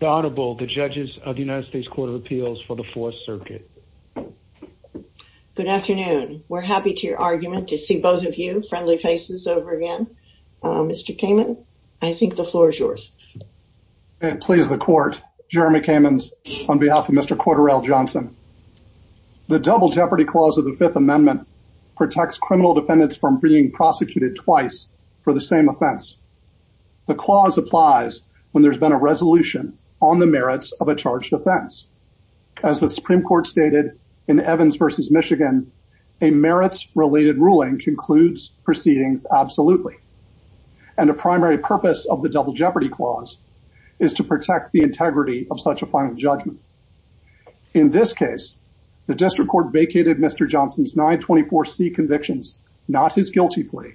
The Honorable, the judges of the United States Court of Appeals for the Fourth Circuit. Good afternoon. We're happy to your argument to see both of you friendly faces over again. Mr. Kamen, I think the floor is yours. Please, the court. Jeremy Kamens on behalf of Mr. Cordarrell Johnson. The double jeopardy clause of the Fifth Amendment protects criminal defendants from being prosecuted twice for the same offense. The clause applies when there's been a resolution on the merits of a charged offense. As the Supreme Court stated in Evans v. Michigan, a merits related ruling concludes proceedings absolutely. And the primary purpose of the double jeopardy clause is to protect the integrity of such a final judgment. In this case, the district court vacated Mr. Johnson's 924C convictions, not his guilty plea,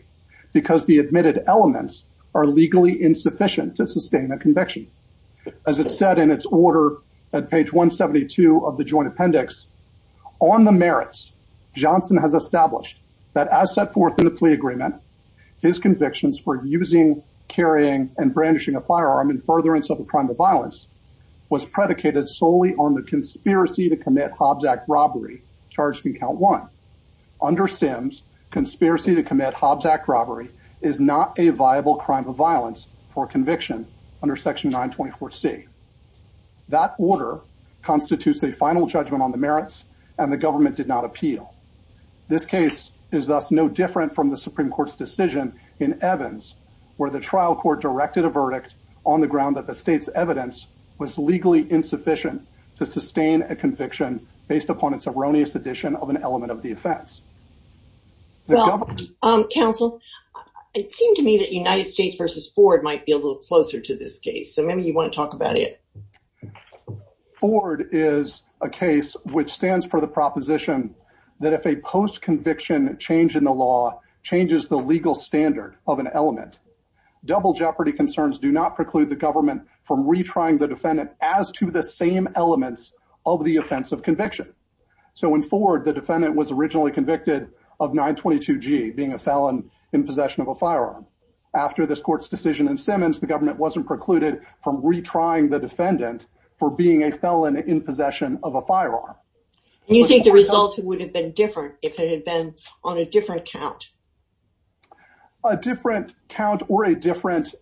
because the admitted elements are legally insufficient to sustain a conviction. As it said in its order at page 172 of the Joint Appendix, on the merits, Johnson has established that as set forth in the plea agreement, his convictions for using, carrying, and brandishing a firearm in furtherance of a robbery charged from count one. Under Sims, conspiracy to commit robbery is not a viable crime of violence for conviction under section 924C. That order constitutes a final judgment on the merits, and the government did not appeal. This case is thus no different from the Supreme Court's decision in Evans, where the trial court directed a verdict on the ground that the state's upon its erroneous addition of an element of the offense. Well, counsel, it seemed to me that United States v. Ford might be a little closer to this case, so maybe you want to talk about it. Ford is a case which stands for the proposition that if a post-conviction change in the law changes the legal standard of an element, double jeopardy concerns do not preclude the government from retrying the defendant as to the same elements of the offense of conviction. So in Ford, the defendant was originally convicted of 922G, being a felon in possession of a firearm. After this court's decision in Simmons, the government wasn't precluded from retrying the defendant for being a felon in possession of a firearm. You think the result would have been different if it had been on a different count? A different count or a different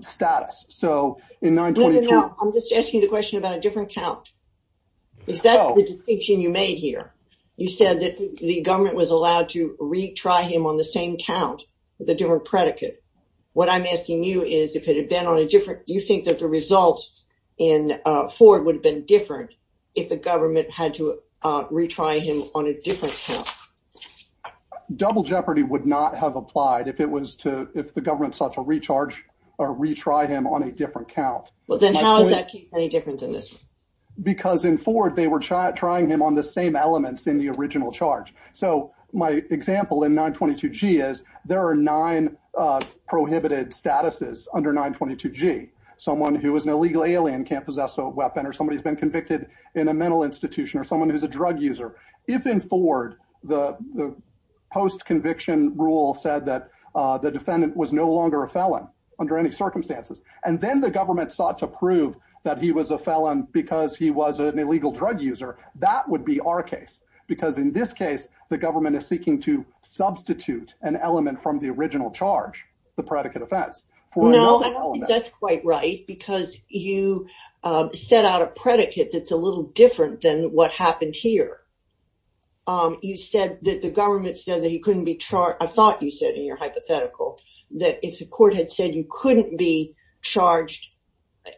status? So in 922... No, no, no. I'm just asking the question about a different count, because that's the distinction you made here. You said that the government was allowed to retry him on the same count with a different predicate. What I'm asking you is if it had been on a different... Do you think that the results in Ford would have been different if the government had to retry him on a different count? Double jeopardy would not have applied if it was to... If the government sought to recharge or retry him on a different count. Well, then how does that keep any difference in this? Because in Ford, they were trying him on the same elements in the original charge. So my example in 922G is there are nine prohibited statuses under 922G. Someone who is an illegal alien can't possess a weapon, or somebody has been convicted in a mental institution, or someone who's a drug user. If in Ford, the post-conviction rule said that the defendant was no longer a felon under any circumstances, and then the government sought to prove that he was a felon because he was an illegal drug user, that would be our case. Because in this case, the government is seeking to substitute an element from the original charge, the predicate offense. No, that's quite right, because you set out a predicate that's a little different than what happened here. You said that the government said that he couldn't be charged. I thought you said in your hypothetical that if the court had said you couldn't be charged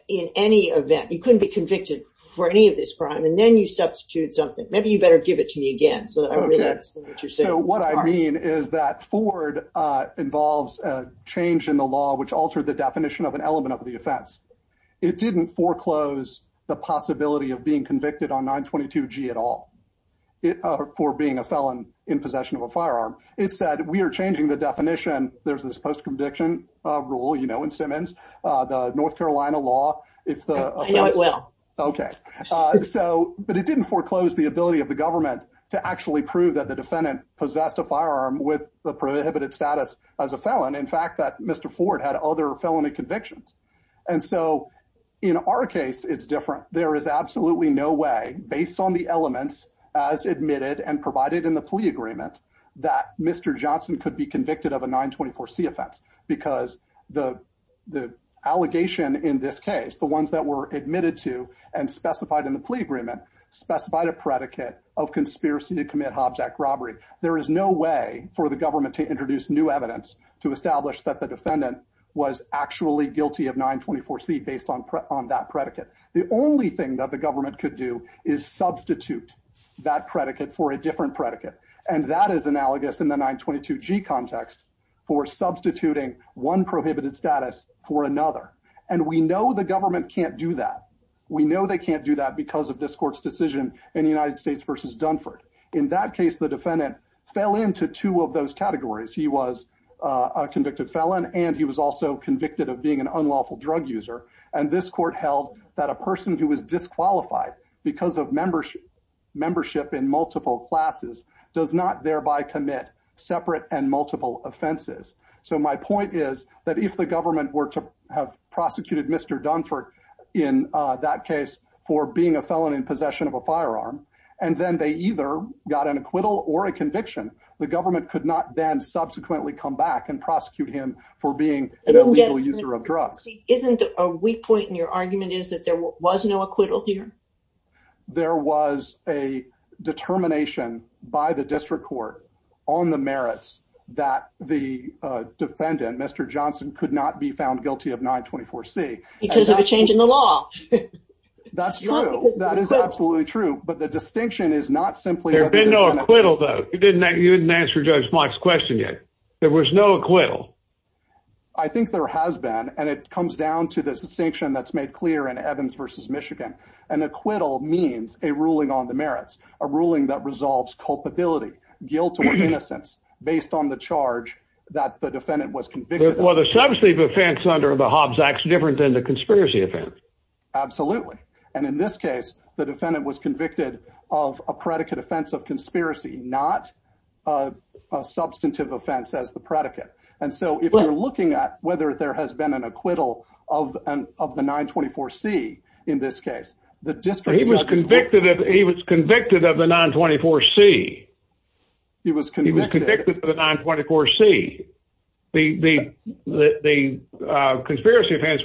in any event, you couldn't be convicted for any of this crime, and then you substitute something. Maybe you better give it to me again so that I really understand what you're saying. So what I mean is that Ford involves a law which altered the definition of an element of the offense. It didn't foreclose the possibility of being convicted on 922g at all for being a felon in possession of a firearm. It said, we are changing the definition. There's this post-conviction rule, you know, in Simmons, the North Carolina law. I know it well. Okay. But it didn't foreclose the ability of the government to actually prove that the defendant possessed a firearm with the prohibited status as a felon. In fact, that Mr. Ford had other felony convictions. And so in our case, it's different. There is absolutely no way, based on the elements as admitted and provided in the plea agreement, that Mr. Johnson could be convicted of a 924c offense because the the allegation in this case, the ones that were admitted to and specified in the plea agreement, specified a predicate of conspiracy to commit Hobbs Act robbery. There is no way for the government to introduce new evidence to establish that the defendant was actually guilty of 924c based on that predicate. The only thing that the government could do is substitute that predicate for a different predicate. And that is analogous in the 922g context for substituting one prohibited status for another. And we know the government can't do that. We know they can't do that because of this court's decision in the United States versus Dunford. In that case, the defendant fell into two of the categories. He was a convicted felon and he was also convicted of being an unlawful drug user. And this court held that a person who was disqualified because of membership in multiple classes does not thereby commit separate and multiple offenses. So my point is that if the government were to have prosecuted Mr. Dunford in that case for being a felon in possession of a firearm, and then they either got an acquittal or a conviction, the government could not then subsequently come back and prosecute him for being a legal user of drugs. Isn't a weak point in your argument is that there was no acquittal here? There was a determination by the district court on the merits that the defendant, Mr. Johnson, could not be found guilty of 924c. Because of a change in the law. That's true. That is absolutely true. But the distinction is not simply... You didn't answer Judge Block's question yet. There was no acquittal. I think there has been. And it comes down to this distinction that's made clear in Evans versus Michigan. An acquittal means a ruling on the merits, a ruling that resolves culpability, guilt or innocence based on the charge that the defendant was convicted of. Well, the substantive offense under the Hobbs Act is different than the conspiracy offense. Absolutely. And in this case, the defendant was convicted of a predicate offense of conspiracy, not a substantive offense as the predicate. And so if you're looking at whether there has been an acquittal of the 924c in this case, the district... He was convicted of the 924c. He was convicted of the 924c. The conspiracy offense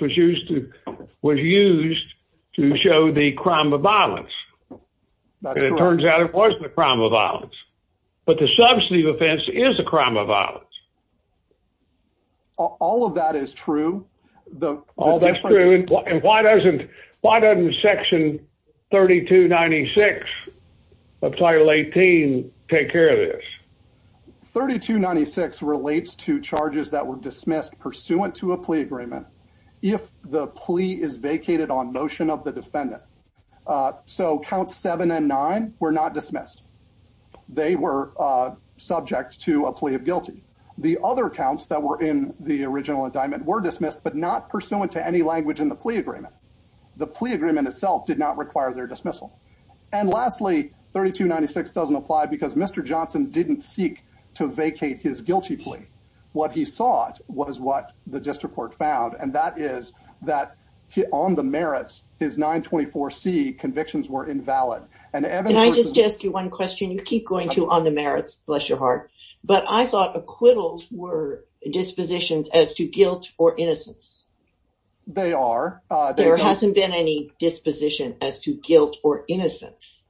was used to show the crime of violence. That's correct. It turns out it wasn't a crime of violence. But the substantive offense is a crime of violence. All of that is true. The difference... And why doesn't Section 3296 of Title 18 take care of this? 3296 relates to charges that were dismissed pursuant to a plea agreement if the plea is vacated on motion of the defendant. So Counts 7 and 9 were not dismissed. They were subject to a plea of guilty. The other counts that were in the original agreement, the plea agreement itself did not require their dismissal. And lastly, 3296 doesn't apply because Mr. Johnson didn't seek to vacate his guilty plea. What he sought was what the district court found, and that is that on the merits, his 924c convictions were invalid. And Evan... Can I just ask you one question? You keep going to on the merits, bless your heart. But I thought acquittals were dispositions as to guilt or innocence. They are. There hasn't been any disposition as to guilt or innocence.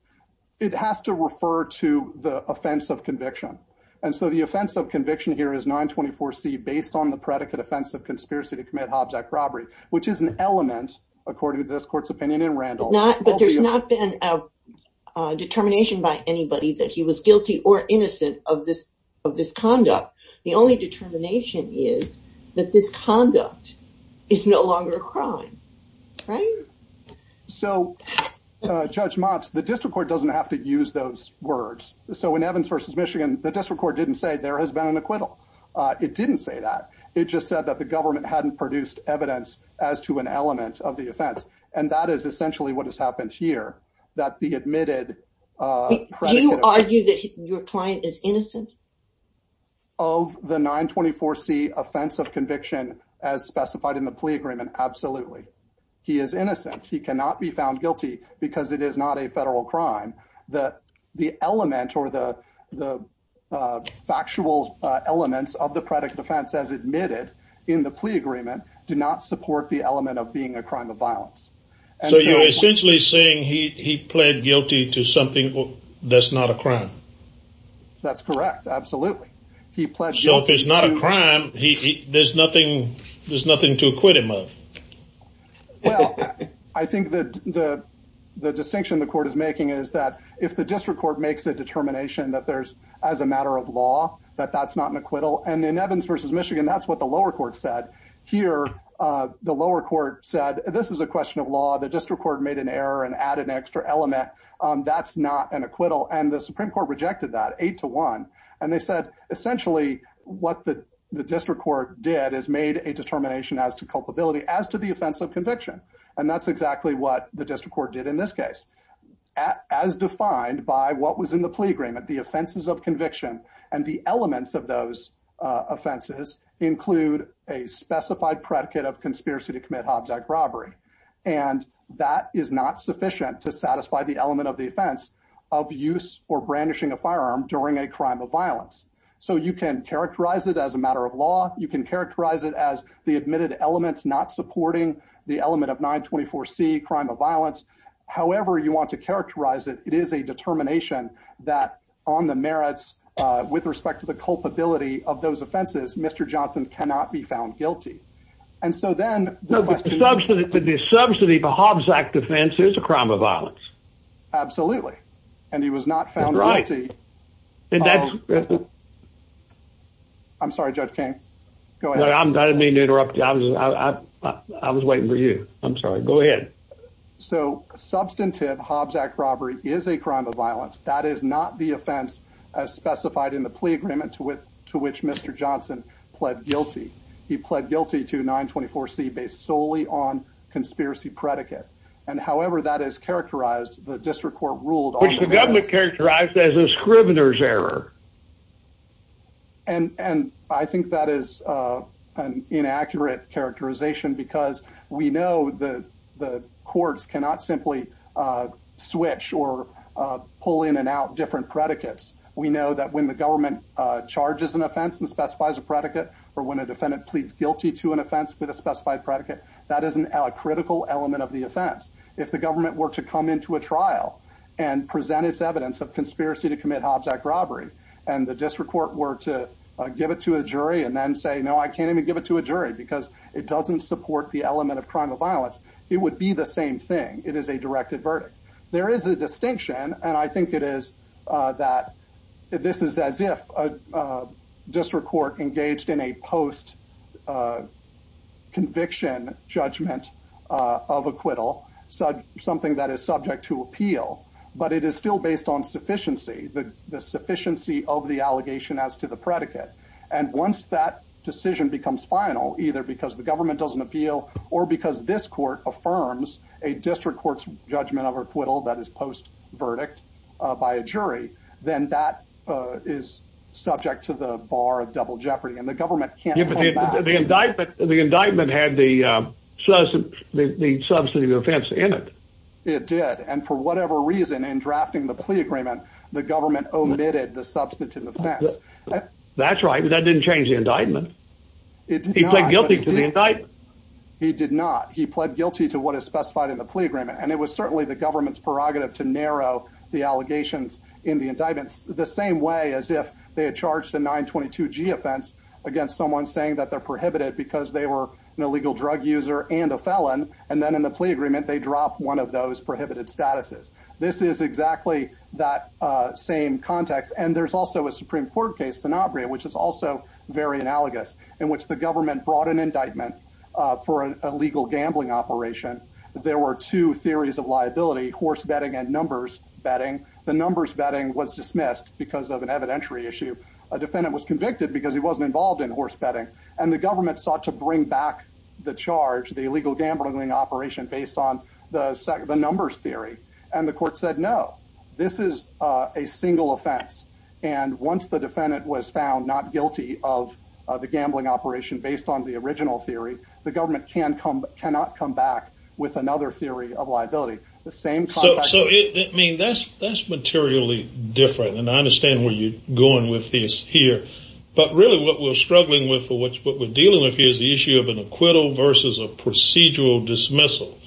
It has to refer to the offense of conviction. And so the offense of conviction here is 924c based on the predicate offense of conspiracy to commit object robbery, which is an element, according to this court's opinion and Randall... Not, but there's not been a determination by anybody that he was guilty or innocent of this conduct. The only determination is that this conduct is no longer a crime, right? So, Judge Motz, the district court doesn't have to use those words. So in Evans versus Michigan, the district court didn't say there has been an acquittal. It didn't say that. It just said that the government hadn't produced evidence as to an element of the offense. And that is essentially what has happened here, that the admitted... Do you argue that your client is innocent? Of the 924c offense of conviction as specified in the plea agreement? Absolutely. He is innocent. He cannot be found guilty because it is not a federal crime. The element or the factual elements of the predicate offense as admitted in the plea agreement do not support the element of being a crime of violence. So you're essentially saying he pled guilty to something that's not a crime? That's correct. Absolutely. So if it's not a crime, there's nothing to acquit him of? Well, I think that the distinction the court is making is that if the district court makes a determination that there's as a matter of law, that that's not an acquittal. And in Evans versus Michigan, that's what the lower court said. Here, the lower court said, this is a question of law. The district court made an error and added an extra element. That's not an acquittal. And the what the district court did is made a determination as to culpability as to the offense of conviction. And that's exactly what the district court did in this case. As defined by what was in the plea agreement, the offenses of conviction and the elements of those offenses include a specified predicate of conspiracy to commit object robbery. And that is not sufficient to satisfy the element of the offense of use or brandishing a firearm during a crime of violence. So you can characterize it as a matter of law. You can characterize it as the admitted elements not supporting the element of 924 C crime of violence. However, you want to characterize it. It is a determination that on the merits with respect to the culpability of those offenses. Mr. Johnson cannot be found guilty. And so then the subsidy for Hobbs Act offense is a crime of violence. Absolutely. And he was not found. Right. I'm sorry, Judge King. Go ahead. I didn't mean to interrupt you. I was waiting for you. I'm sorry. Go ahead. So substantive Hobbs Act robbery is a crime of violence. That is not the offense as specified in the plea agreement to which Mr. Johnson pled guilty. He pled guilty to 924 C based solely on conspiracy predicate. And however, that is characterized, the district court ruled which the government characterized as a scrivener's error. And I think that is an inaccurate characterization because we know that the courts cannot simply switch or pull in and out different predicates. We know that when the government charges an offense and specifies a predicate or when a defendant pleads guilty to offense with a specified predicate, that isn't a critical element of the offense. If the government were to come into a trial and present its evidence of conspiracy to commit Hobbs Act robbery, and the district court were to give it to a jury and then say, No, I can't even give it to a jury because it doesn't support the element of crime of violence. It would be the same thing. It is a directed verdict. There is a distinction, and I think it is that this is as if a district court engaged in a post conviction judgment of acquittal, something that is subject to appeal, but it is still based on sufficiency, the sufficiency of the allegation as to the predicate. And once that decision becomes final, either because the government doesn't appeal or because this court affirms a district court's judgment of acquittal that is post verdict by a jury, then that is subject to the bar of double jeopardy. And the government can't get the indictment. The indictment had the the substantive offense in it. It did. And for whatever reason, in drafting the plea agreement, the government omitted the substantive offense. That's right. That didn't change the indictment. It's guilty tonight. He did not. He pled guilty to what is specified in the plea agreement. And it was certainly the government's prerogative to narrow the allegations in the indictments the same way as if they had charged a 922 G offense against someone saying that they're prohibited because they were an illegal drug user and a felon. And then in the plea agreement, they drop one of those prohibited statuses. This is exactly that same context. And there's also a Supreme Court case, Sanabria, which is also very analogous in which the government brought an indictment for a legal gambling operation. There were two liability horse betting and numbers betting. The numbers betting was dismissed because of an evidentiary issue. A defendant was convicted because he wasn't involved in horse betting, and the government sought to bring back the charge, the illegal gambling operation based on the numbers theory. And the court said, No, this is a single offense. And once the defendant was found not guilty of the gambling operation based on the original theory, the government can come back with another theory of liability. So that's materially different, and I understand where you're going with this here. But really what we're struggling with, what we're dealing with here is the issue of an acquittal versus a procedural dismissal.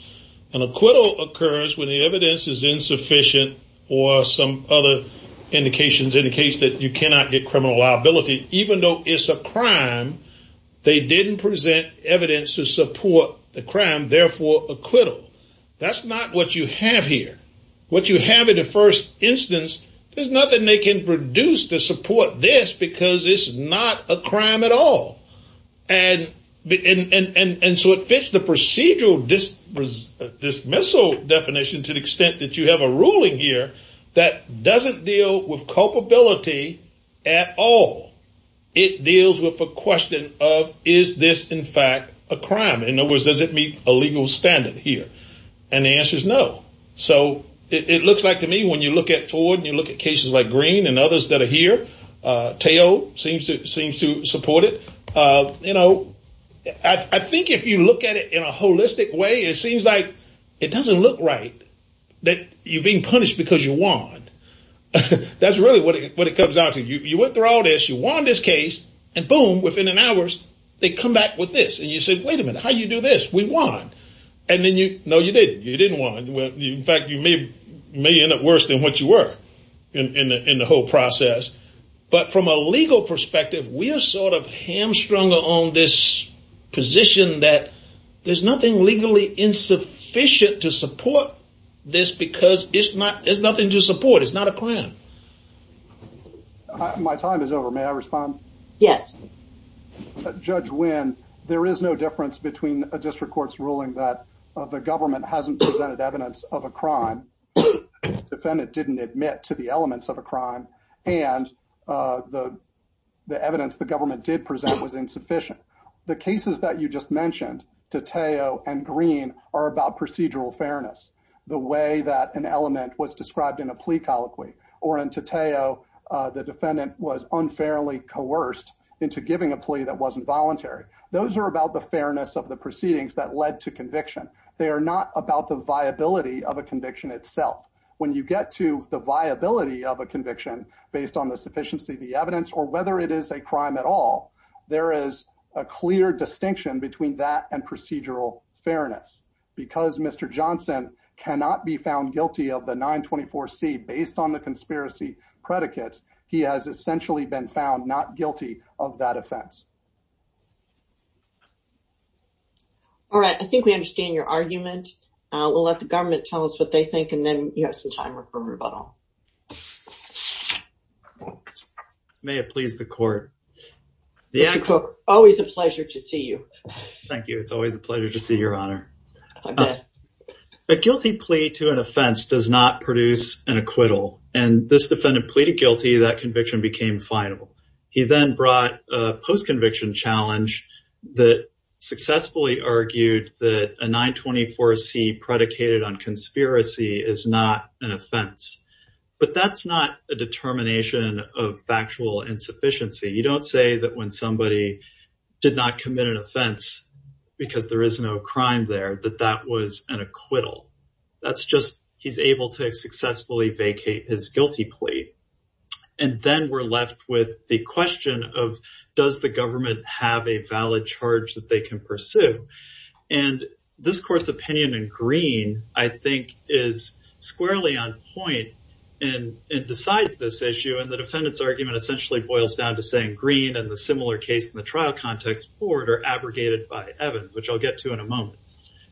An acquittal occurs when the evidence is insufficient or some other indications indicate that you cannot get criminal liability, even though it's a crime. They didn't present evidence to support the crime, therefore, acquittal. That's not what you have here. What you have in the first instance, there's nothing they can produce to support this because it's not a crime at all. And so it fits the procedural dismissal definition to the extent that you have a ruling here that doesn't deal with culpability at all. It deals with the question of, is this in fact a crime? In other words, does it meet a legal standard here? And the answer is no. So it looks like to me, when you look at Ford and you look at cases like Green and others that are here, Teo seems to support it. I think if you look at it in a holistic way, it seems like it doesn't look right that you're being punished because you went through all this, you won this case, and boom, within an hour, they come back with this. And you say, wait a minute, how do you do this? We won. And then you, no, you didn't, you didn't win. In fact, you may end up worse than what you were in the whole process. But from a legal perspective, we are hamstrung on this position that there's nothing legally insufficient to support this because there's nothing to support. It's not a crime. My time is over. May I respond? Yes. Judge Nguyen, there is no difference between a district court's ruling that the government hasn't presented evidence of a crime, defendant didn't admit to the elements of a crime, and the evidence the government did present was insufficient. The cases that you just mentioned, to Teo and Green, are about procedural fairness. The way that an element was described in a plea or in Teo, the defendant was unfairly coerced into giving a plea that wasn't voluntary. Those are about the fairness of the proceedings that led to conviction. They are not about the viability of a conviction itself. When you get to the viability of a conviction based on the sufficiency of the evidence or whether it is a crime at all, there is a clear distinction between that and conspiracy predicates. He has essentially been found not guilty of that offense. All right. I think we understand your argument. We'll let the government tell us what they think and then you have some time for rebuttal. May it please the court. Always a pleasure to see you. Thank you. It's always a pleasure to see your honor. Okay. A guilty plea to an offense does not produce an acquittal, and this defendant pleaded guilty, that conviction became final. He then brought a post-conviction challenge that successfully argued that a 924c predicated on conspiracy is not an offense. But that's not a determination of factual insufficiency. You don't say that when somebody did not commit an offense because there is no crime there, that that was an acquittal. That's just he's able to successfully vacate his guilty plea. And then we're left with the question of, does the government have a valid charge that they can pursue? And this court's opinion in Green, I think is squarely on point and decides this issue. And the defendant's argument essentially boils down to saying Green and the similar case in the trial context forward or abrogated by Evans, which I'll get to in a moment.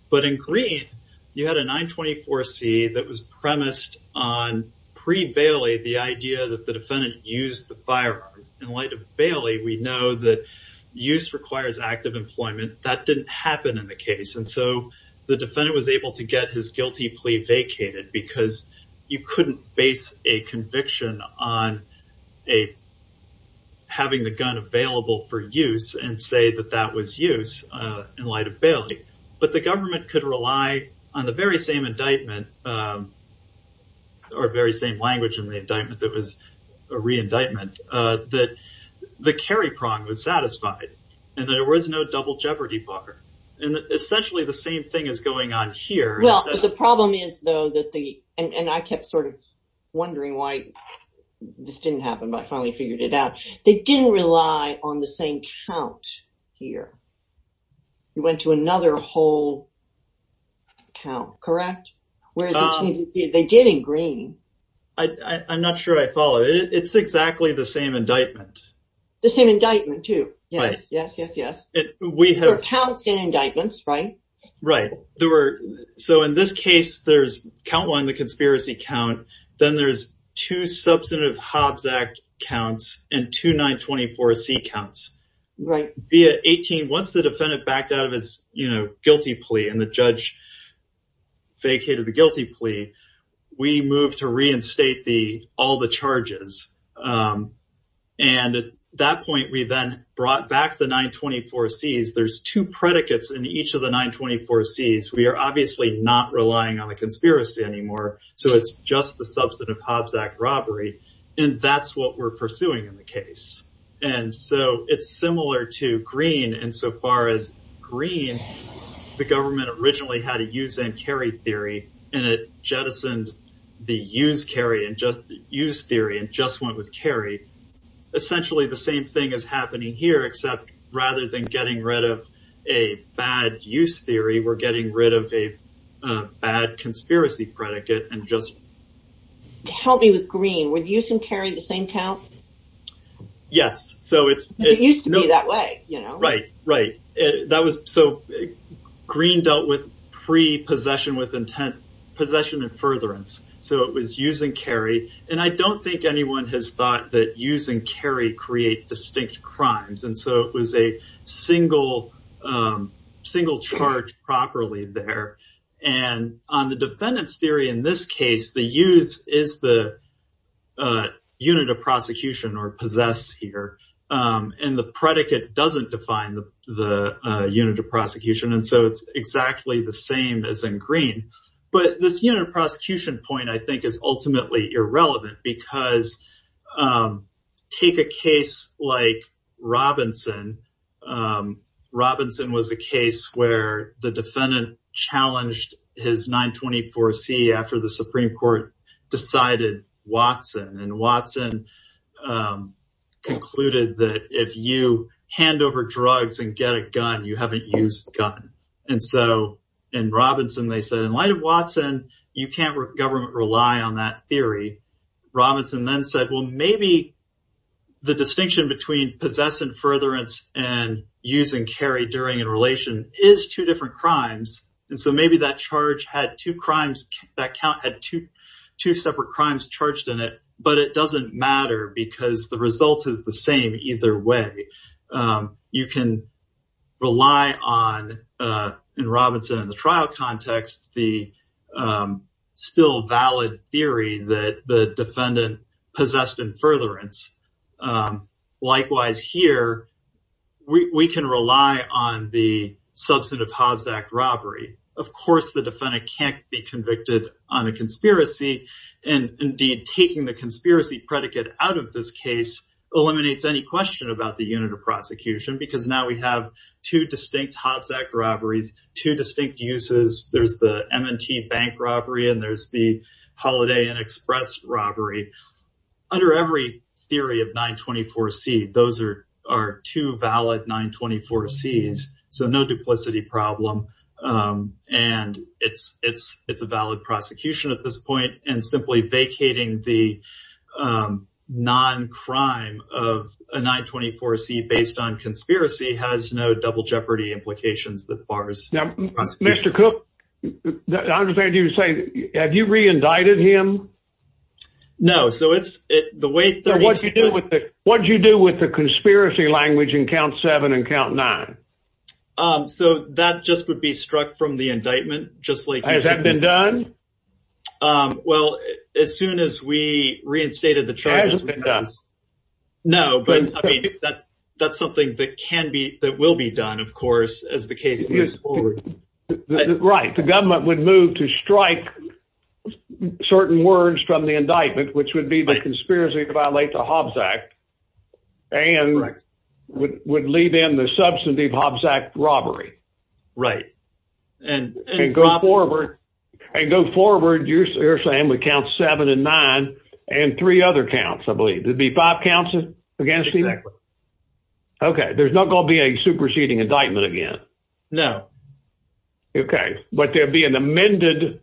But in Green, you had a 924c that was premised on pre-Bailey the idea that the defendant used the firearm. In light of Bailey, we know that use requires active employment. That didn't happen in the case. And so the defendant was able to get his guilty plea vacated because you couldn't base a conviction on having the gun available for use and say that that was use in light of Bailey. But the government could rely on the very same indictment or very same language in the indictment that was a re-indictment that the carry prong was satisfied and there was no double jeopardy bar. And essentially the same thing is going on here. Well, the problem is, though, and I kept wondering why this didn't happen, but I finally figured it out. They didn't rely on the same count here. You went to another whole count, correct? Whereas they did in Green. I'm not sure I follow. It's exactly the same indictment. The same indictment, too. Yes, yes, yes, yes. There were counts in indictments, right? Right. There were. So in this case, there's count one, the conspiracy count. Then there's two substantive Hobbs Act counts and two 924C counts via 18. Once the defendant backed out of his guilty plea and the judge vacated the guilty plea, we moved to reinstate all the charges. And at that point, we then brought back the 924Cs. There's two predicates in each of the 924Cs. We are obviously not relying on the conspiracy anymore. So it's just the substantive Hobbs Act robbery. And that's what we're pursuing in the case. And so it's similar to Green. And so far as Green, the government originally had a use and carry theory, and it jettisoned the use carry use theory and just went with carry. Essentially, the same thing is happening here, except rather than getting rid of a bad use theory, we're getting rid of a bad conspiracy predicate. Help me with Green. Were use and carry the same count? Yes. It used to be that way. Right, right. So Green dealt with pre-possession with intent possession and furtherance. So it was use and carry. And I don't think anyone has thought that use and carry create distinct crimes. And so it was a single charge properly there. And on the defendant's theory in this case, the use is the unit of prosecution or possessed here. And the predicate doesn't define the unit of prosecution. And so it's exactly the same as in Green. But this unit of prosecution point, I think, is ultimately irrelevant because take a case like Robinson. Robinson was a case where the defendant challenged his 924C after the Supreme Court decided Watson and Watson concluded that if you hand over drugs and get a gun, you haven't used a gun. And so in Robinson, they said, in light of Watson, you can't government rely on that theory. Robinson then said, well, maybe the distinction between possess and furtherance and use and carry during a relation is two different crimes. And so maybe that charge had two crimes. That count had two separate crimes charged in it. But it doesn't matter because the result is the same either way. You can rely on in Robinson in the trial context, the still valid theory that the defendant possessed and furtherance. Likewise, here, we can rely on the substantive Hobbs Act robbery. Of course, the defendant can't be convicted on a conspiracy. And indeed, taking the conspiracy predicate out of this case eliminates any question about the unit of prosecution because now we have two distinct Hobbs Act robberies, two distinct uses. There's the M&T bank robbery and there's the Holiday Inn Express robbery. Under every theory of 924C, those are two valid 924Cs. So no duplicity problem. And it's a valid prosecution at this point. And simply vacating the non-crime of a 924C based on conspiracy has no double jeopardy implications that bars. Mr. Cook, I understand you're saying, have you re-indicted him? No, so it's the way... So what do you do with the conspiracy language in count seven and count nine? Um, so that just would be struck from the indictment, just like... Has that been done? Um, well, as soon as we reinstated the charges... Has it been done? No, but that's something that can be, that will be done, of course, as the case moves forward. Right. The government would move to strike certain words from the indictment, which would be the conspiracy to violate the Hobbs Act and would leave in the substantive Hobbs Act robbery. Right. And go forward... And go forward, you're saying, with count seven and nine and three other counts, I believe. There'd be five counts against him? Exactly. Okay. There's not going to be a superseding indictment again. No. Okay. But there'd be an amended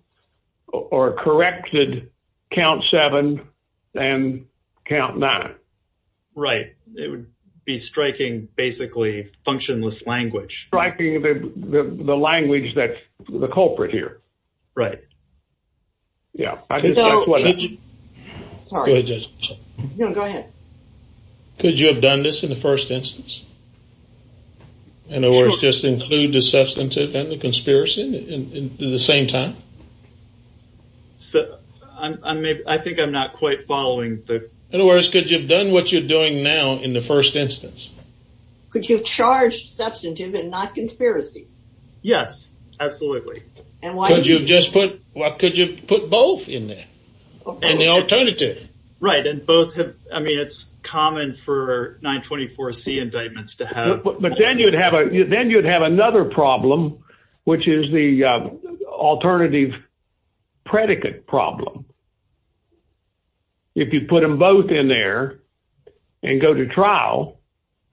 or corrected count seven and count nine. Right. It would be striking, basically, functionless language. Striking the language that's the culprit here. Right. Could you have done this in the first instance? In other words, just include the substantive and the conspiracy at the same time? I think I'm not quite following the... In other words, could you have done what you're doing now in the first instance? Could you have charged substantive and not conspiracy? Yes, absolutely. And why... Could you put both in there? And the alternative? Right. And both have... I mean, it's common for 924C indictments to have... But then you'd have another problem, which is the alternative predicate problem. If you put them both in there and go to trial,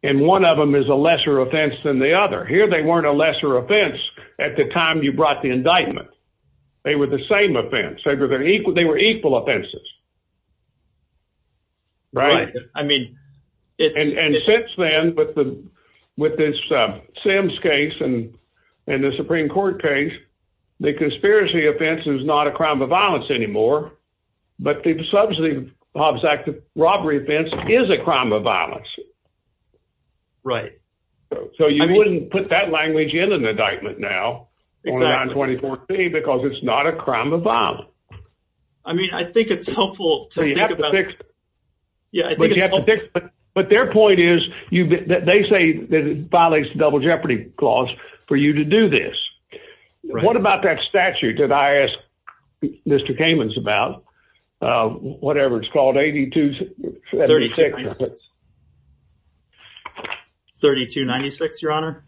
and one of them is a lesser offense than the other. Here, they weren't a lesser offense at the time you brought the indictment. They were the same offense. They were equal offenses. Right. I mean, it's... And since then, with this Sims case and the Supreme Court case, the conspiracy offense is not a crime of violence anymore. But the substantive Hobbs Act of robbery offense is a crime of violence. Right. So you wouldn't put that language in an indictment now on 924C because it's not a crime of violence. I mean, I think it's helpful to think about... You have to fix... Yeah, I think it's helpful... But their point is, they say that it violates the double jeopardy clause for you to do this. What about that statute that I asked Mr. Kamens about? Whatever it's called, 8296. 3296, your honor?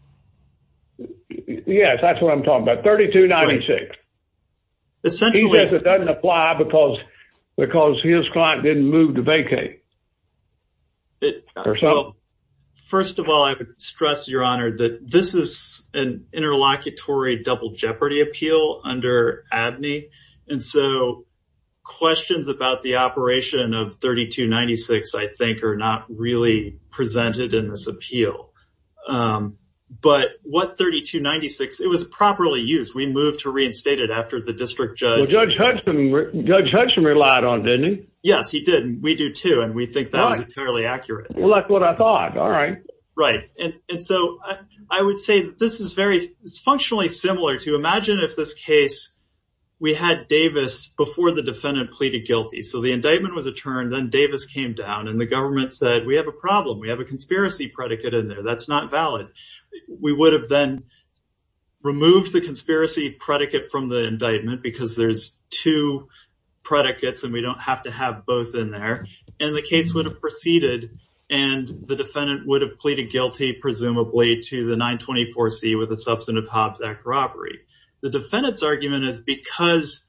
Yes, that's what I'm talking about. 3296. Essentially... He says it doesn't apply because his client didn't move the vacay. First of all, I would stress, your honor, that this is an interlocutory double jeopardy appeal under ABNY. And so questions about the operation of 3296, I think, are not really presented in this appeal. But what 3296, it was properly used. We moved to reinstate it after the district judge. Judge Hudson relied on it, didn't he? Yes, he did. And we do too. And we think that was entirely accurate. Well, that's what I thought. All right. Right. And so I would say this is very... It's functionally similar to... Imagine if this case, we had Davis before the defendant pleaded guilty. So the indictment was adjourned, then Davis came down and the government said, we have a problem. We have a conspiracy predicate in there. That's not valid. We would have then removed the conspiracy predicate from the indictment because there's two predicates and we don't have to have both in there. And the case would have proceeded and the defendant would have pleaded guilty, presumably, to the 924C with a substantive Hobbs Act robbery. The defendant's argument is because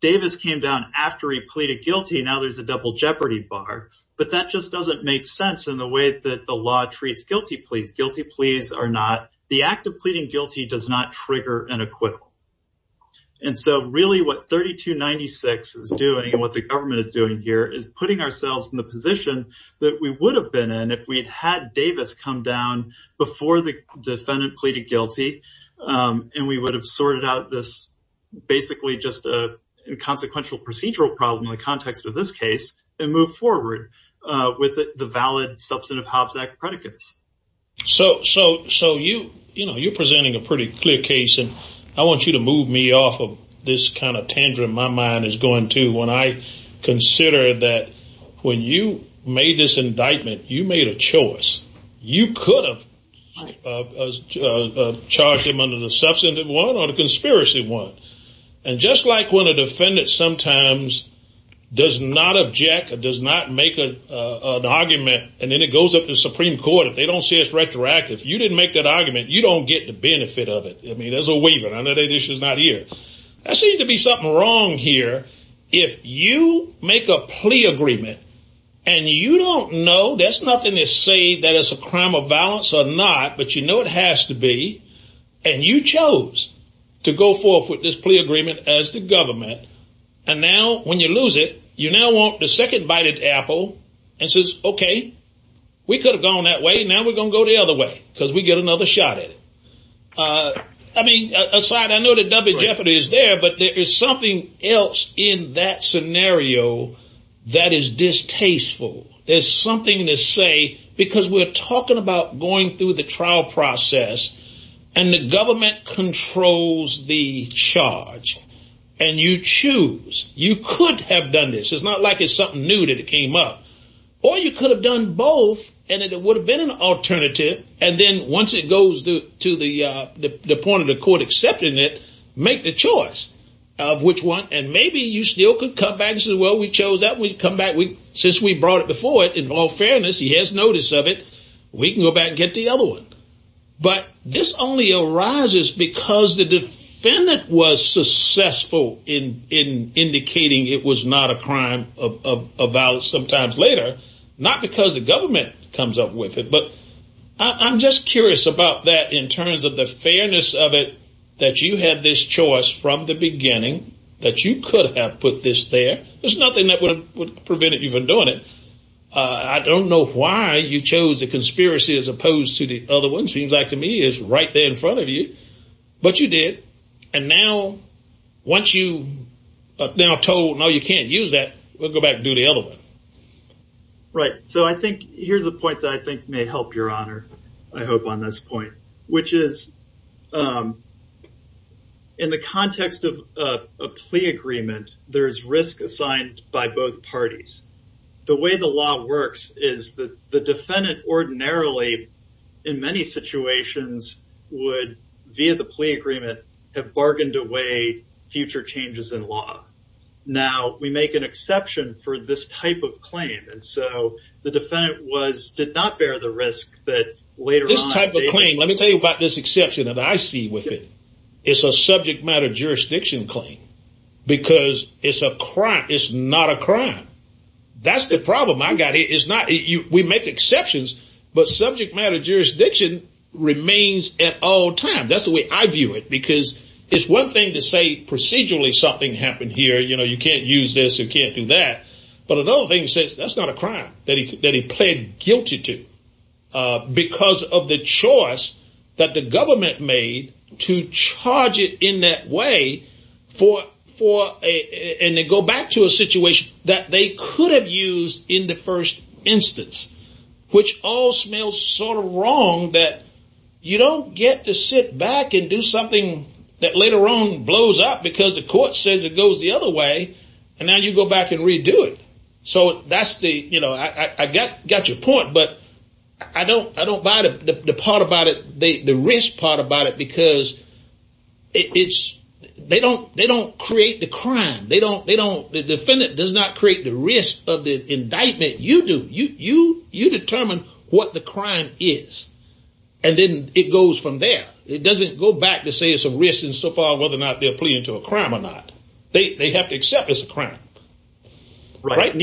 Davis came down after he pleaded guilty, now there's a double jeopardy bar. But that just doesn't make sense in the way that the law treats guilty pleas. Guilty pleas are not... The act of pleading guilty does not trigger an indictment. And so really what 3296 is doing and what the government is doing here is putting ourselves in the position that we would have been in if we'd had Davis come down before the defendant pleaded guilty and we would have sorted out this basically just a consequential procedural problem in the context of this case and move forward with the valid substantive Hobbs Act predicates. So you're presenting a pretty clear case and I want you to move me off of this kind of tangerine my mind is going to when I consider that when you made this indictment, you made a choice. You could have charged him under the substantive one or the conspiracy one. And just like when a defendant sometimes does not object or does not make an argument and then it goes up to the Supreme Court, if they don't see it's retroactive, you didn't make that argument, you don't get the benefit of it. I mean, there's a waiver. There seems to be something wrong here. If you make a plea agreement and you don't know, there's nothing to say that it's a crime of violence or not, but you know it has to be. And you chose to go forth with this plea agreement as the government. And now when you lose it, you now want the second bite of the apple and says, okay, we could have gone that way. Now we're going to go the other way because we get another shot at it. I mean, aside, I know that W Jeopardy is there, but there is something else in that scenario that is distasteful. There's something to say, because we're talking about going through the trial process and the government controls the charge and you choose, you could have done this. It's not like something new that came up or you could have done both. And it would have been an alternative. And then once it goes to the point of the court accepting it, make the choice of which one. And maybe you still could come back and say, well, we chose that. We'd come back. Since we brought it before it, in all fairness, he has notice of it. We can go back and get the other one. But this only arises because the defendant was successful in indicating it was not a crime about sometimes later, not because the government comes up with it. But I'm just curious about that in terms of the fairness of it, that you had this choice from the beginning that you could have put this there. There's nothing that would prevent you from doing it. I don't know why you chose the conspiracy as opposed to the other one. Seems like to me is right there in front of you, but you did. And now once you now told, no, you can't use that, we'll go back and do the other one. Right. So I think here's the point that I think may help your honor, I hope on this point, which is in the context of a plea agreement, there's risk assigned by both parties. The way the law works is that the defendant ordinarily in many situations would via the plea agreement have bargained away future changes in law. Now we make an exception for this type of claim. And so the defendant was, did not bear the risk that later on. This type of claim, let me tell you about this exception that I see with it. It's a subject matter jurisdiction claim because it's a crime. It's not a crime. That's the problem I got here. It's not, we make exceptions, but subject matter jurisdiction remains at all times. That's the way I view it, because it's one thing to say procedurally something happened here. You can't use this. You can't do that. But another thing says that's not a crime that he pled guilty to because of the choice that the government made to charge it in that way. And they go back to a situation that they could have used in the first instance, which all smells sort of wrong that you don't get to sit back and do something that later on blows up because the court says it goes the other way. And now you go back and redo it. So that's the, I got your point, but I don't buy the part about it, the risk part about it, because they don't create the crime. The defendant does not create the risk of the indictment. You do. You determine what the crime is. And then it goes from there. It doesn't go back to say it's a risk and so far whether or not they'll plead to a crime or not. They have to accept it's a crime. Right.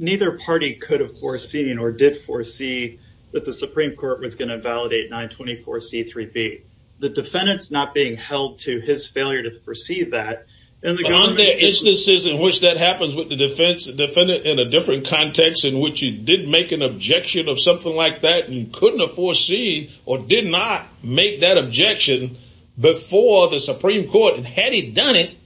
Neither party could have foreseen or did foresee that the Supreme Court was going to validate 924C3B. The defendant's not being held to his failure to foresee that. But on their instances in which that happens with the defense, the defendant in a different context in which he did make an objection of something like that and couldn't have foreseen or did not make that objection before the Supreme Court. And had he done it,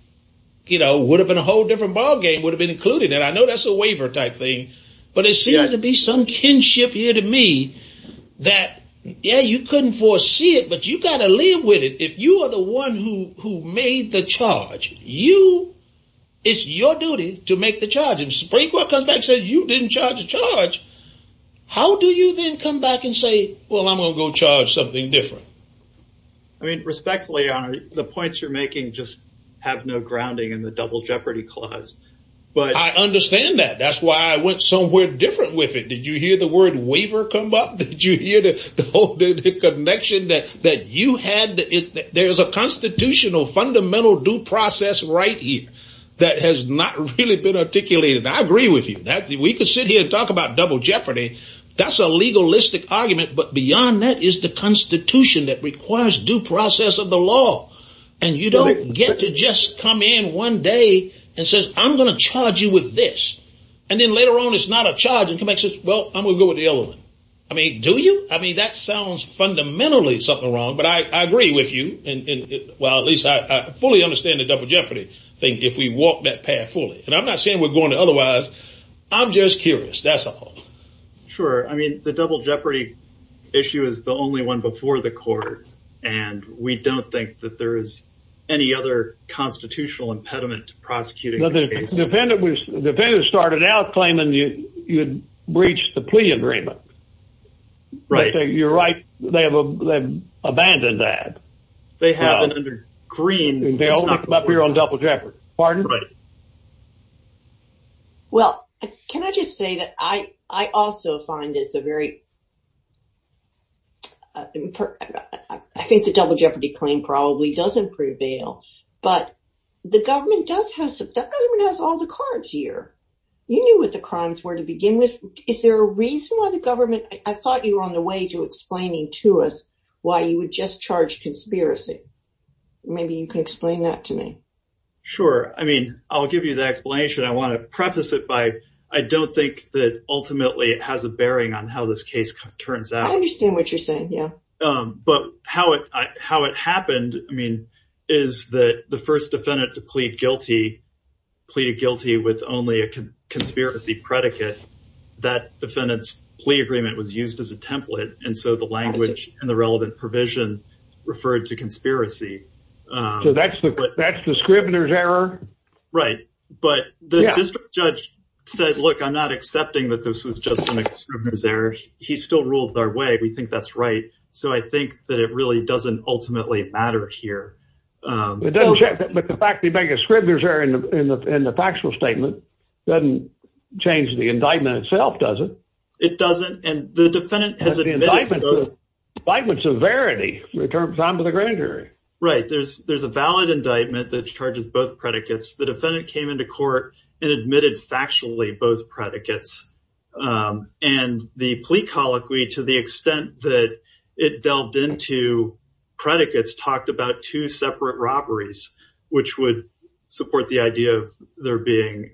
would have been a whole different ballgame, would have been included. And I know that's a waiver type thing, but it seems to be some kinship here to me that, yeah, you couldn't foresee it, but you got to live with it. If you are the one who made the charge, it's your duty to make the charge. And Supreme Court comes back and says, you didn't charge the charge. How do you then come back and say, well, I'm going to go charge something different? I mean, respectfully, the points you're making just have no grounding in the double jeopardy clause. I understand that. That's why I went somewhere different with it. Did you hear the word waiver come up? Did you hear the whole connection that you had? There's a constitutional fundamental due process right here that has not really been articulated. I agree with you. We could sit here and talk about double jeopardy. That's a legalistic argument. But beyond that is the constitution that requires due process of the law. And you don't get to just come in one day and says, I'm going to charge you with this. And then later on, it's not a charge. It can make sense. Well, I'm going to go with the other one. I mean, do you? I mean, that sounds fundamentally something wrong, but I agree with you. Well, at least I fully understand the double jeopardy thing if we walk that path fully. And I'm not saying we're going to otherwise. I'm just curious. That's all. Sure. I mean, the double jeopardy issue is the only one before the court. And we don't think that there is any other constitutional impediment to prosecuting. The defendant started out claiming you breached the plea agreement. Right. You're right. They have abandoned that. They have it under green. They only come up here pardon. Well, can I just say that I also find this a very I think the double jeopardy claim probably doesn't prevail. But the government does have all the cards here. You knew what the crimes were to begin with. Is there a reason why the government I thought you were on the way to explaining to us why you would just charge conspiracy? Maybe you can explain that to me. Sure. I mean, I'll give you the explanation. I want to preface it by I don't think that ultimately it has a bearing on how this case turns out. I understand what you're saying. Yeah. But how it how it happened, I mean, is that the first defendant to plead guilty, pleaded guilty with only a conspiracy predicate that defendant's plea agreement was used as a template. And so the language and the relevant provision referred to conspiracy. So that's that's the Scribner's error. Right. But the judge said, look, I'm not accepting that this was just an error. He still ruled our way. We think that's right. So I think that it really doesn't ultimately matter here. But the fact they make a Scribner's error in the factual statement doesn't change the terms of the grand jury. Right. There's there's a valid indictment that charges both predicates. The defendant came into court and admitted factually both predicates and the plea colloquy to the extent that it delved into predicates talked about two separate robberies, which would support the idea of there being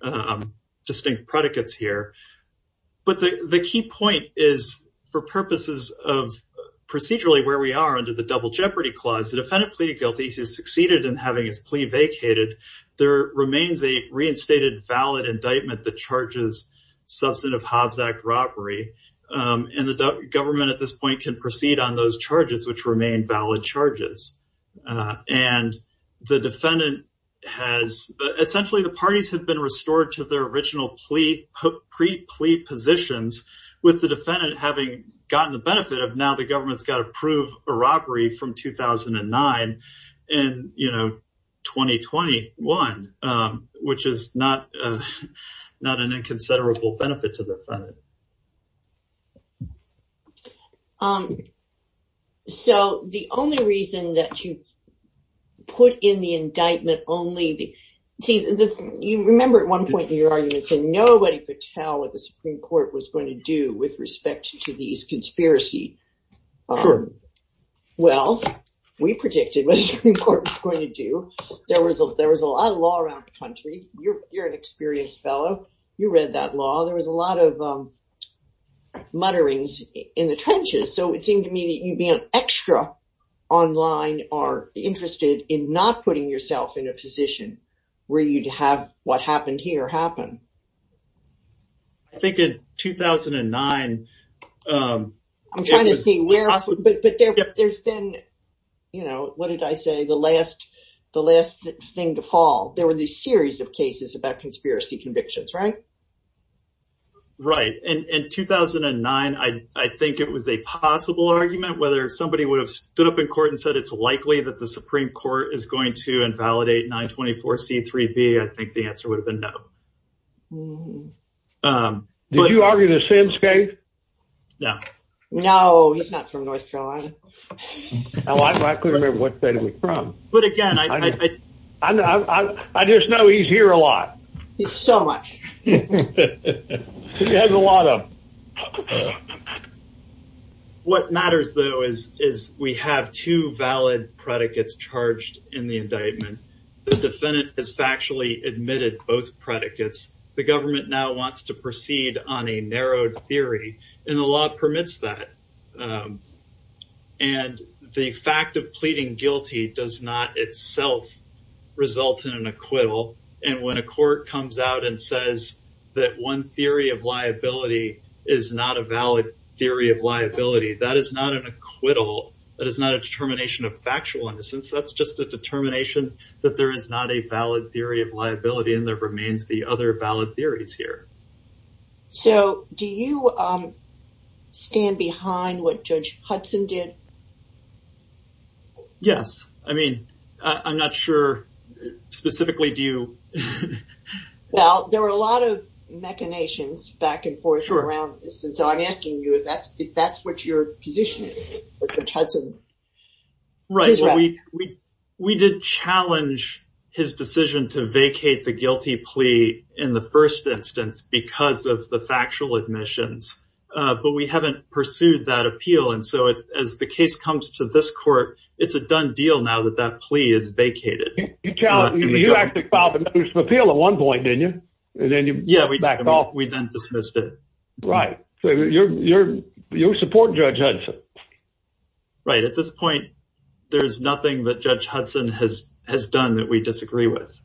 distinct predicates here. But the key point is for purposes of procedurally where we are under the double jeopardy clause, the defendant pleaded guilty has succeeded in having his plea vacated. There remains a reinstated valid indictment that charges substantive Hobbs Act robbery. And the government at this point can proceed on those charges, which remain valid charges. And the defendant has essentially the parties have been restored to their original plea pre plea positions with the defendant having gotten the benefit of now government's got to prove a robbery from 2009 and, you know, 2021, which is not not an inconsiderable benefit to the. So the only reason that you put in the indictment only you remember at one point in your arguments and nobody could tell if the Supreme Court was going to do with respect to these conspiracy. Well, we predicted what the Supreme Court was going to do. There was a there was a lot of law around the country. You're an experienced fellow. You read that law. There was a lot of mutterings in the trenches. So it seemed to me that you'd be an extra online or interested in not putting yourself in a position where you'd have what happened here happen. I think in 2009, I'm trying to see where, but there's been, you know, what did I say? The last the last thing to fall. There were this series of cases about conspiracy convictions, right? Right. And in 2009, I think it was a possible argument whether somebody would have stood up in court and said it's likely that the Supreme Court is going to validate 924 C3B. I think the answer would have been no. Did you argue the same state? No. No, he's not from North Carolina. I couldn't remember what state he was from. But again, I just know he's here a lot. He's so much. He has a lot of. And what matters, though, is is we have two valid predicates charged in the indictment. The defendant is factually admitted both predicates. The government now wants to proceed on a narrowed theory, and the law permits that. And the fact of pleading guilty does not itself result in an acquittal. And when a court comes out and says that one theory of liability is not a valid theory of liability, that is not an acquittal. That is not a determination of factual innocence. That's just a determination that there is not a valid theory of liability and there remains the other valid theories here. So do you stand behind what Judge Hudson did? Yes. I mean, I'm not sure. Specifically, do you? Well, there were a lot of machinations back and forth around this. And so I'm asking you if that's if that's what you're positioning. Right. We we did challenge his decision to vacate the guilty plea in the first instance because of the factual admissions. But we haven't pursued that appeal. And so as the case comes to this court, it's a done deal now that that plea is vacated. You actually filed a notice of appeal at one point, didn't you? And then you backed off. We then dismissed it. Right. So you're you're you support Judge Hudson. Right. At this point, there's nothing that Judge Hudson has has done that we disagree with.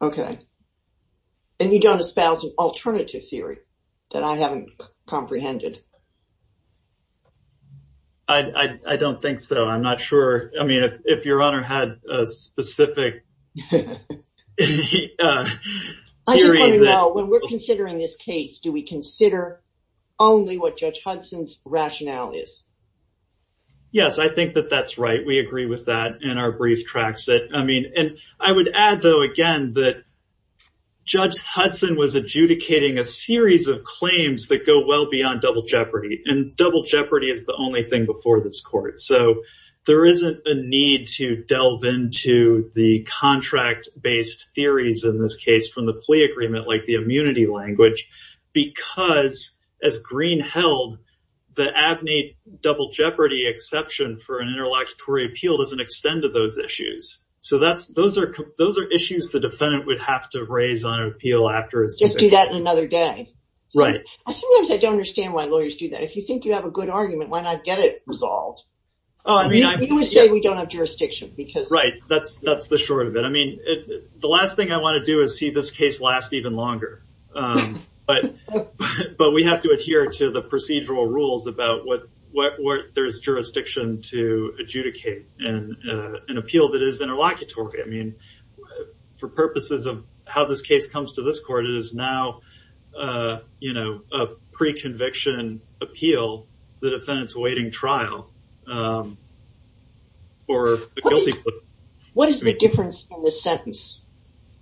OK. And you don't espouse an alternative theory that I haven't comprehended. I don't think so. I'm not sure. I mean, if your honor had a specific. I just want to know when we're considering this case, do we consider only what Judge Hudson's rationale is? Yes, I think that that's right. We agree with that in our brief tracks that I mean, and I would add, though, again, that Judge Hudson was adjudicating a series of claims that go well beyond double jeopardy and double jeopardy is the only thing before this court. So there isn't a need to delve into the contract based theories in this case from the plea agreement, like the immunity language, because as Greene held, the abne double jeopardy exception for an interlocutory appeal doesn't extend to those issues. So that's those are those are issues the defendant would have to raise on appeal after it's just do that another day. Right. Sometimes I don't understand why lawyers do that. If you think you have a good argument, why not get it resolved? Oh, I mean, I would say we don't have jurisdiction because. Right. That's that's the short of it. I mean, the last thing I want to do is see this case last even longer. But but we have to adhere to the procedural rules about what what there's jurisdiction to adjudicate and an appeal that is interlocutory. I mean, for purposes of how this case comes to this court, it is now, you know, a pre-conviction appeal. The defendant's awaiting trial. What is the difference in this sentence?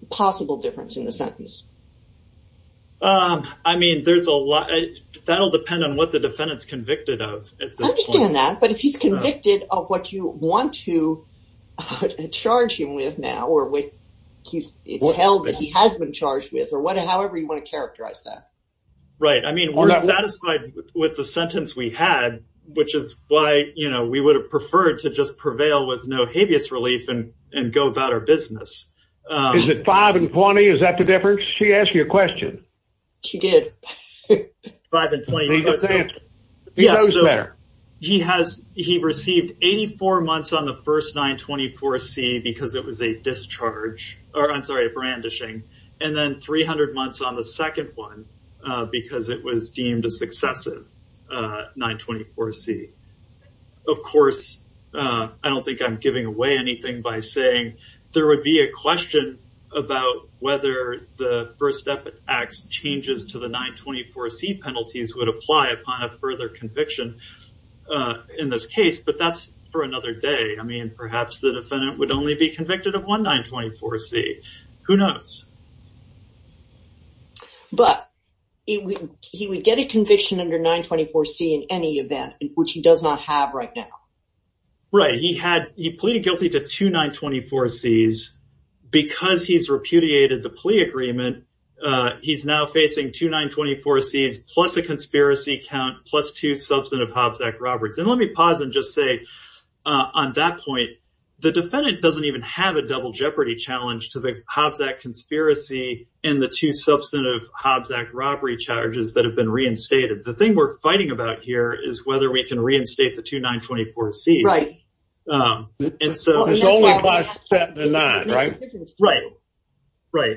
The possible difference in the sentence? I mean, there's a lot. That'll depend on what the defendant's convicted of. I understand that. But if he's convicted of what you want to charge him with now, or what he's held that he has been charged with or whatever, however you want to characterize that. Right. I mean, we're satisfied with the sentence we had, which is why, you know, we would have preferred to just prevail with no habeas relief and and go about our business. Is it 5 and 20? Is that the difference? She asked you a question. She did. 5 and 20. He has he received 84 months on the first 924 C because it was a discharge or I'm sorry, a brandishing and then 300 months on the second one because it was deemed a successive 924 C. Of course, I don't think I'm giving away anything by saying there would be a question about whether the first step acts changes to the 924 C penalties would apply upon a further conviction in this case. But that's for another day. I mean, perhaps the defendant would only be convicted of one 924 C. Who knows? But he would get a conviction under 924 C in any event, which he does not have right now. Right. He had he pleaded guilty to two 924 C's because he's repudiated the plea agreement. He's now facing two 924 C's plus a conspiracy count plus two substantive Hobbs Act Roberts. And let me pause and just say on that point, the defendant doesn't even have a double jeopardy to the Hobbs Act conspiracy and the two substantive Hobbs Act robbery charges that have been reinstated. The thing we're fighting about here is whether we can reinstate the two 924 C's. Right. And so it's only a step in that, right? Right. Right.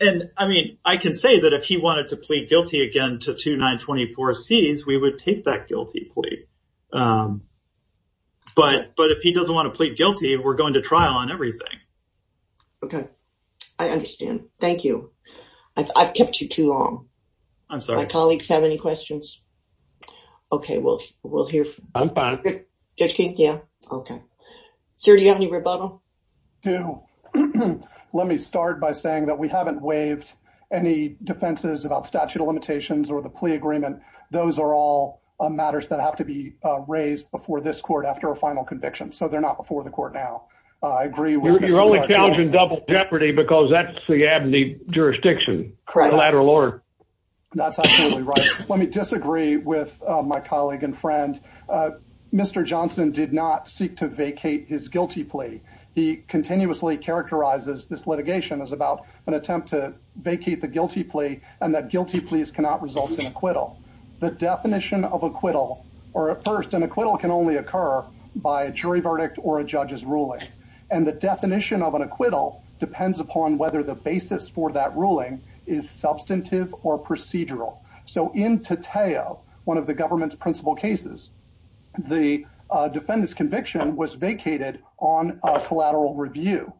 And I mean, I can say that if he wanted to plead guilty again to two 924 C's, we would take that guilty plea. But if he doesn't want to plead guilty, we're going to trial on everything. Okay. I understand. Thank you. I've kept you too long. My colleagues have any questions? Okay. We'll hear from you. I'm fine. Judge King? Yeah. Okay. Sir, do you have any rebuttal? Do. Let me start by saying that we haven't waived any defenses about statute of limitations or the plea agreement. Those are all matters that have to be raised before this court after a final conviction. So they're not before the court now. I agree. You're only challenging double jeopardy because that's the abne jurisdiction. Correct. That's absolutely right. Let me disagree with my colleague and friend. Mr. Johnson did not seek to vacate his guilty plea. He continuously characterizes this litigation as about an attempt to vacate the guilty plea and that guilty pleas cannot result in acquittal. The definition of acquittal or at first an acquittal can only occur by a jury verdict or a judge's ruling. And the definition of an acquittal depends upon whether the basis for that ruling is substantive or procedural. So in Tateo, one of the government's principal cases, the defendant's conviction was vacated on a collateral review.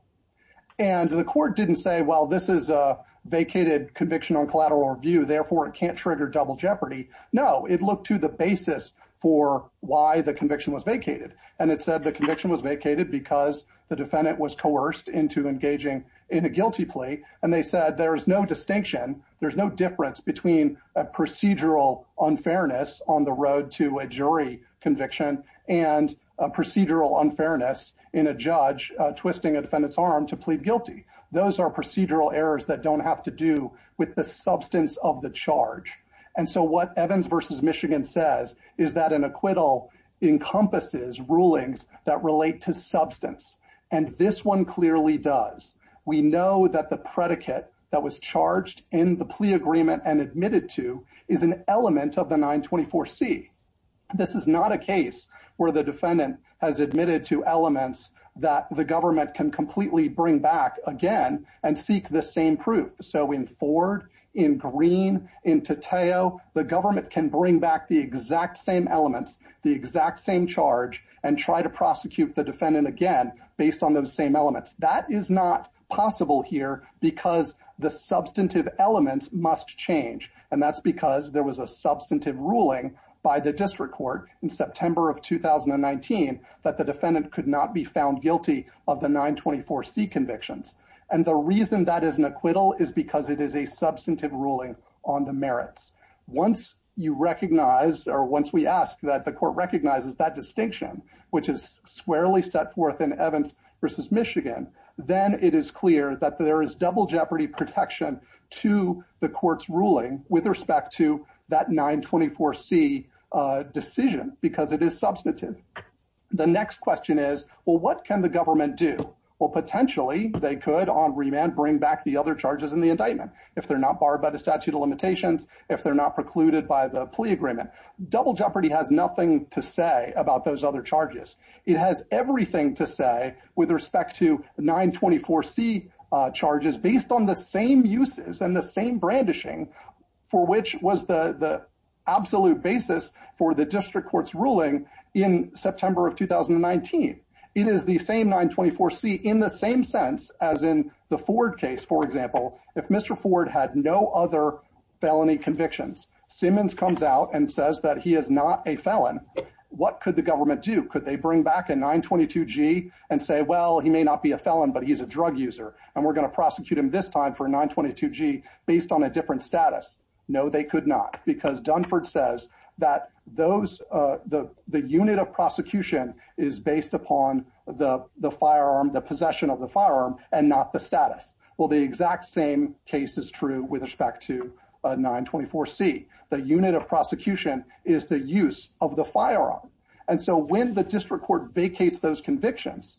And the court didn't say, well, this is a vacated conviction on collateral review, therefore it can't trigger double jeopardy. No, it looked to the basis for why the conviction was vacated. And it said the conviction was vacated because the defendant was coerced into engaging in a guilty plea. And they said there is no distinction. There's no difference between a procedural unfairness on the road to a jury conviction and a procedural unfairness in a judge twisting a defendant's arm to plead guilty. Those are procedural errors that don't have to do with the substance of the charge. And so what Evans v. Michigan says is that an acquittal encompasses rulings that relate to substance. And this one clearly does. We know that the predicate that was charged in the plea agreement and admitted to is an element of the 924C. This is not a case where the defendant has admitted to and seek the same proof. So in Ford, in Green, in Tateo, the government can bring back the exact same elements, the exact same charge, and try to prosecute the defendant again based on those same elements. That is not possible here because the substantive elements must change. And that's because there was a substantive ruling by the district court in September of 2019 that the reason that is an acquittal is because it is a substantive ruling on the merits. Once you recognize or once we ask that the court recognizes that distinction, which is squarely set forth in Evans v. Michigan, then it is clear that there is double jeopardy protection to the court's ruling with respect to that 924C decision because it is substantive. The next question is, well, can the government do? Well, potentially, they could on remand bring back the other charges in the indictment if they're not barred by the statute of limitations, if they're not precluded by the plea agreement. Double jeopardy has nothing to say about those other charges. It has everything to say with respect to 924C charges based on the same uses and the same brandishing for which was the absolute basis for the district court's ruling in September of 2019. It is the same 924C in the same sense as in the Ford case, for example, if Mr. Ford had no other felony convictions, Simmons comes out and says that he is not a felon, what could the government do? Could they bring back a 922G and say, well, he may not be a felon, but he's a drug user, and we're going to prosecute him this time for a 922G based on a different status? No, they could not because Dunford says that the unit of prosecution is based upon the possession of the firearm and not the status. Well, the exact same case is true with respect to 924C. The unit of prosecution is the use of the firearm. And so when the district court vacates those convictions,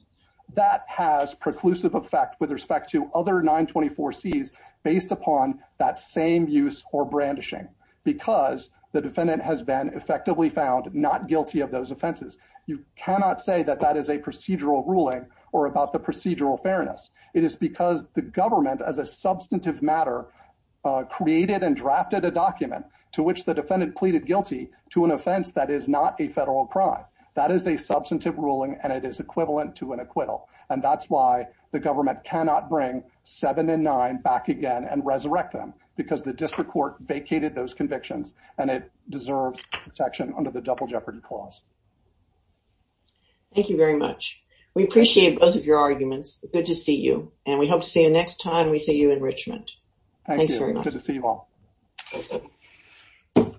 that has preclusive effect with respect to other 924Cs based upon that same use or brandishing because the defendant has been effectively found not guilty of those offenses. You cannot say that that is a procedural ruling or about the procedural fairness. It is because the government as a substantive matter created and drafted a document to which the defendant pleaded guilty to an offense that is not a federal crime. That is a substantive ruling, and it is equivalent to an acquittal. And that's why the government cannot bring seven and nine back again and resurrect them because the district court vacated those convictions, and it deserves protection under the Double Jeopardy Clause. Thank you very much. We appreciate both of your arguments. Good to see you, and we hope to see you next time we see you in Richmond. Thanks very much. Good to see you all.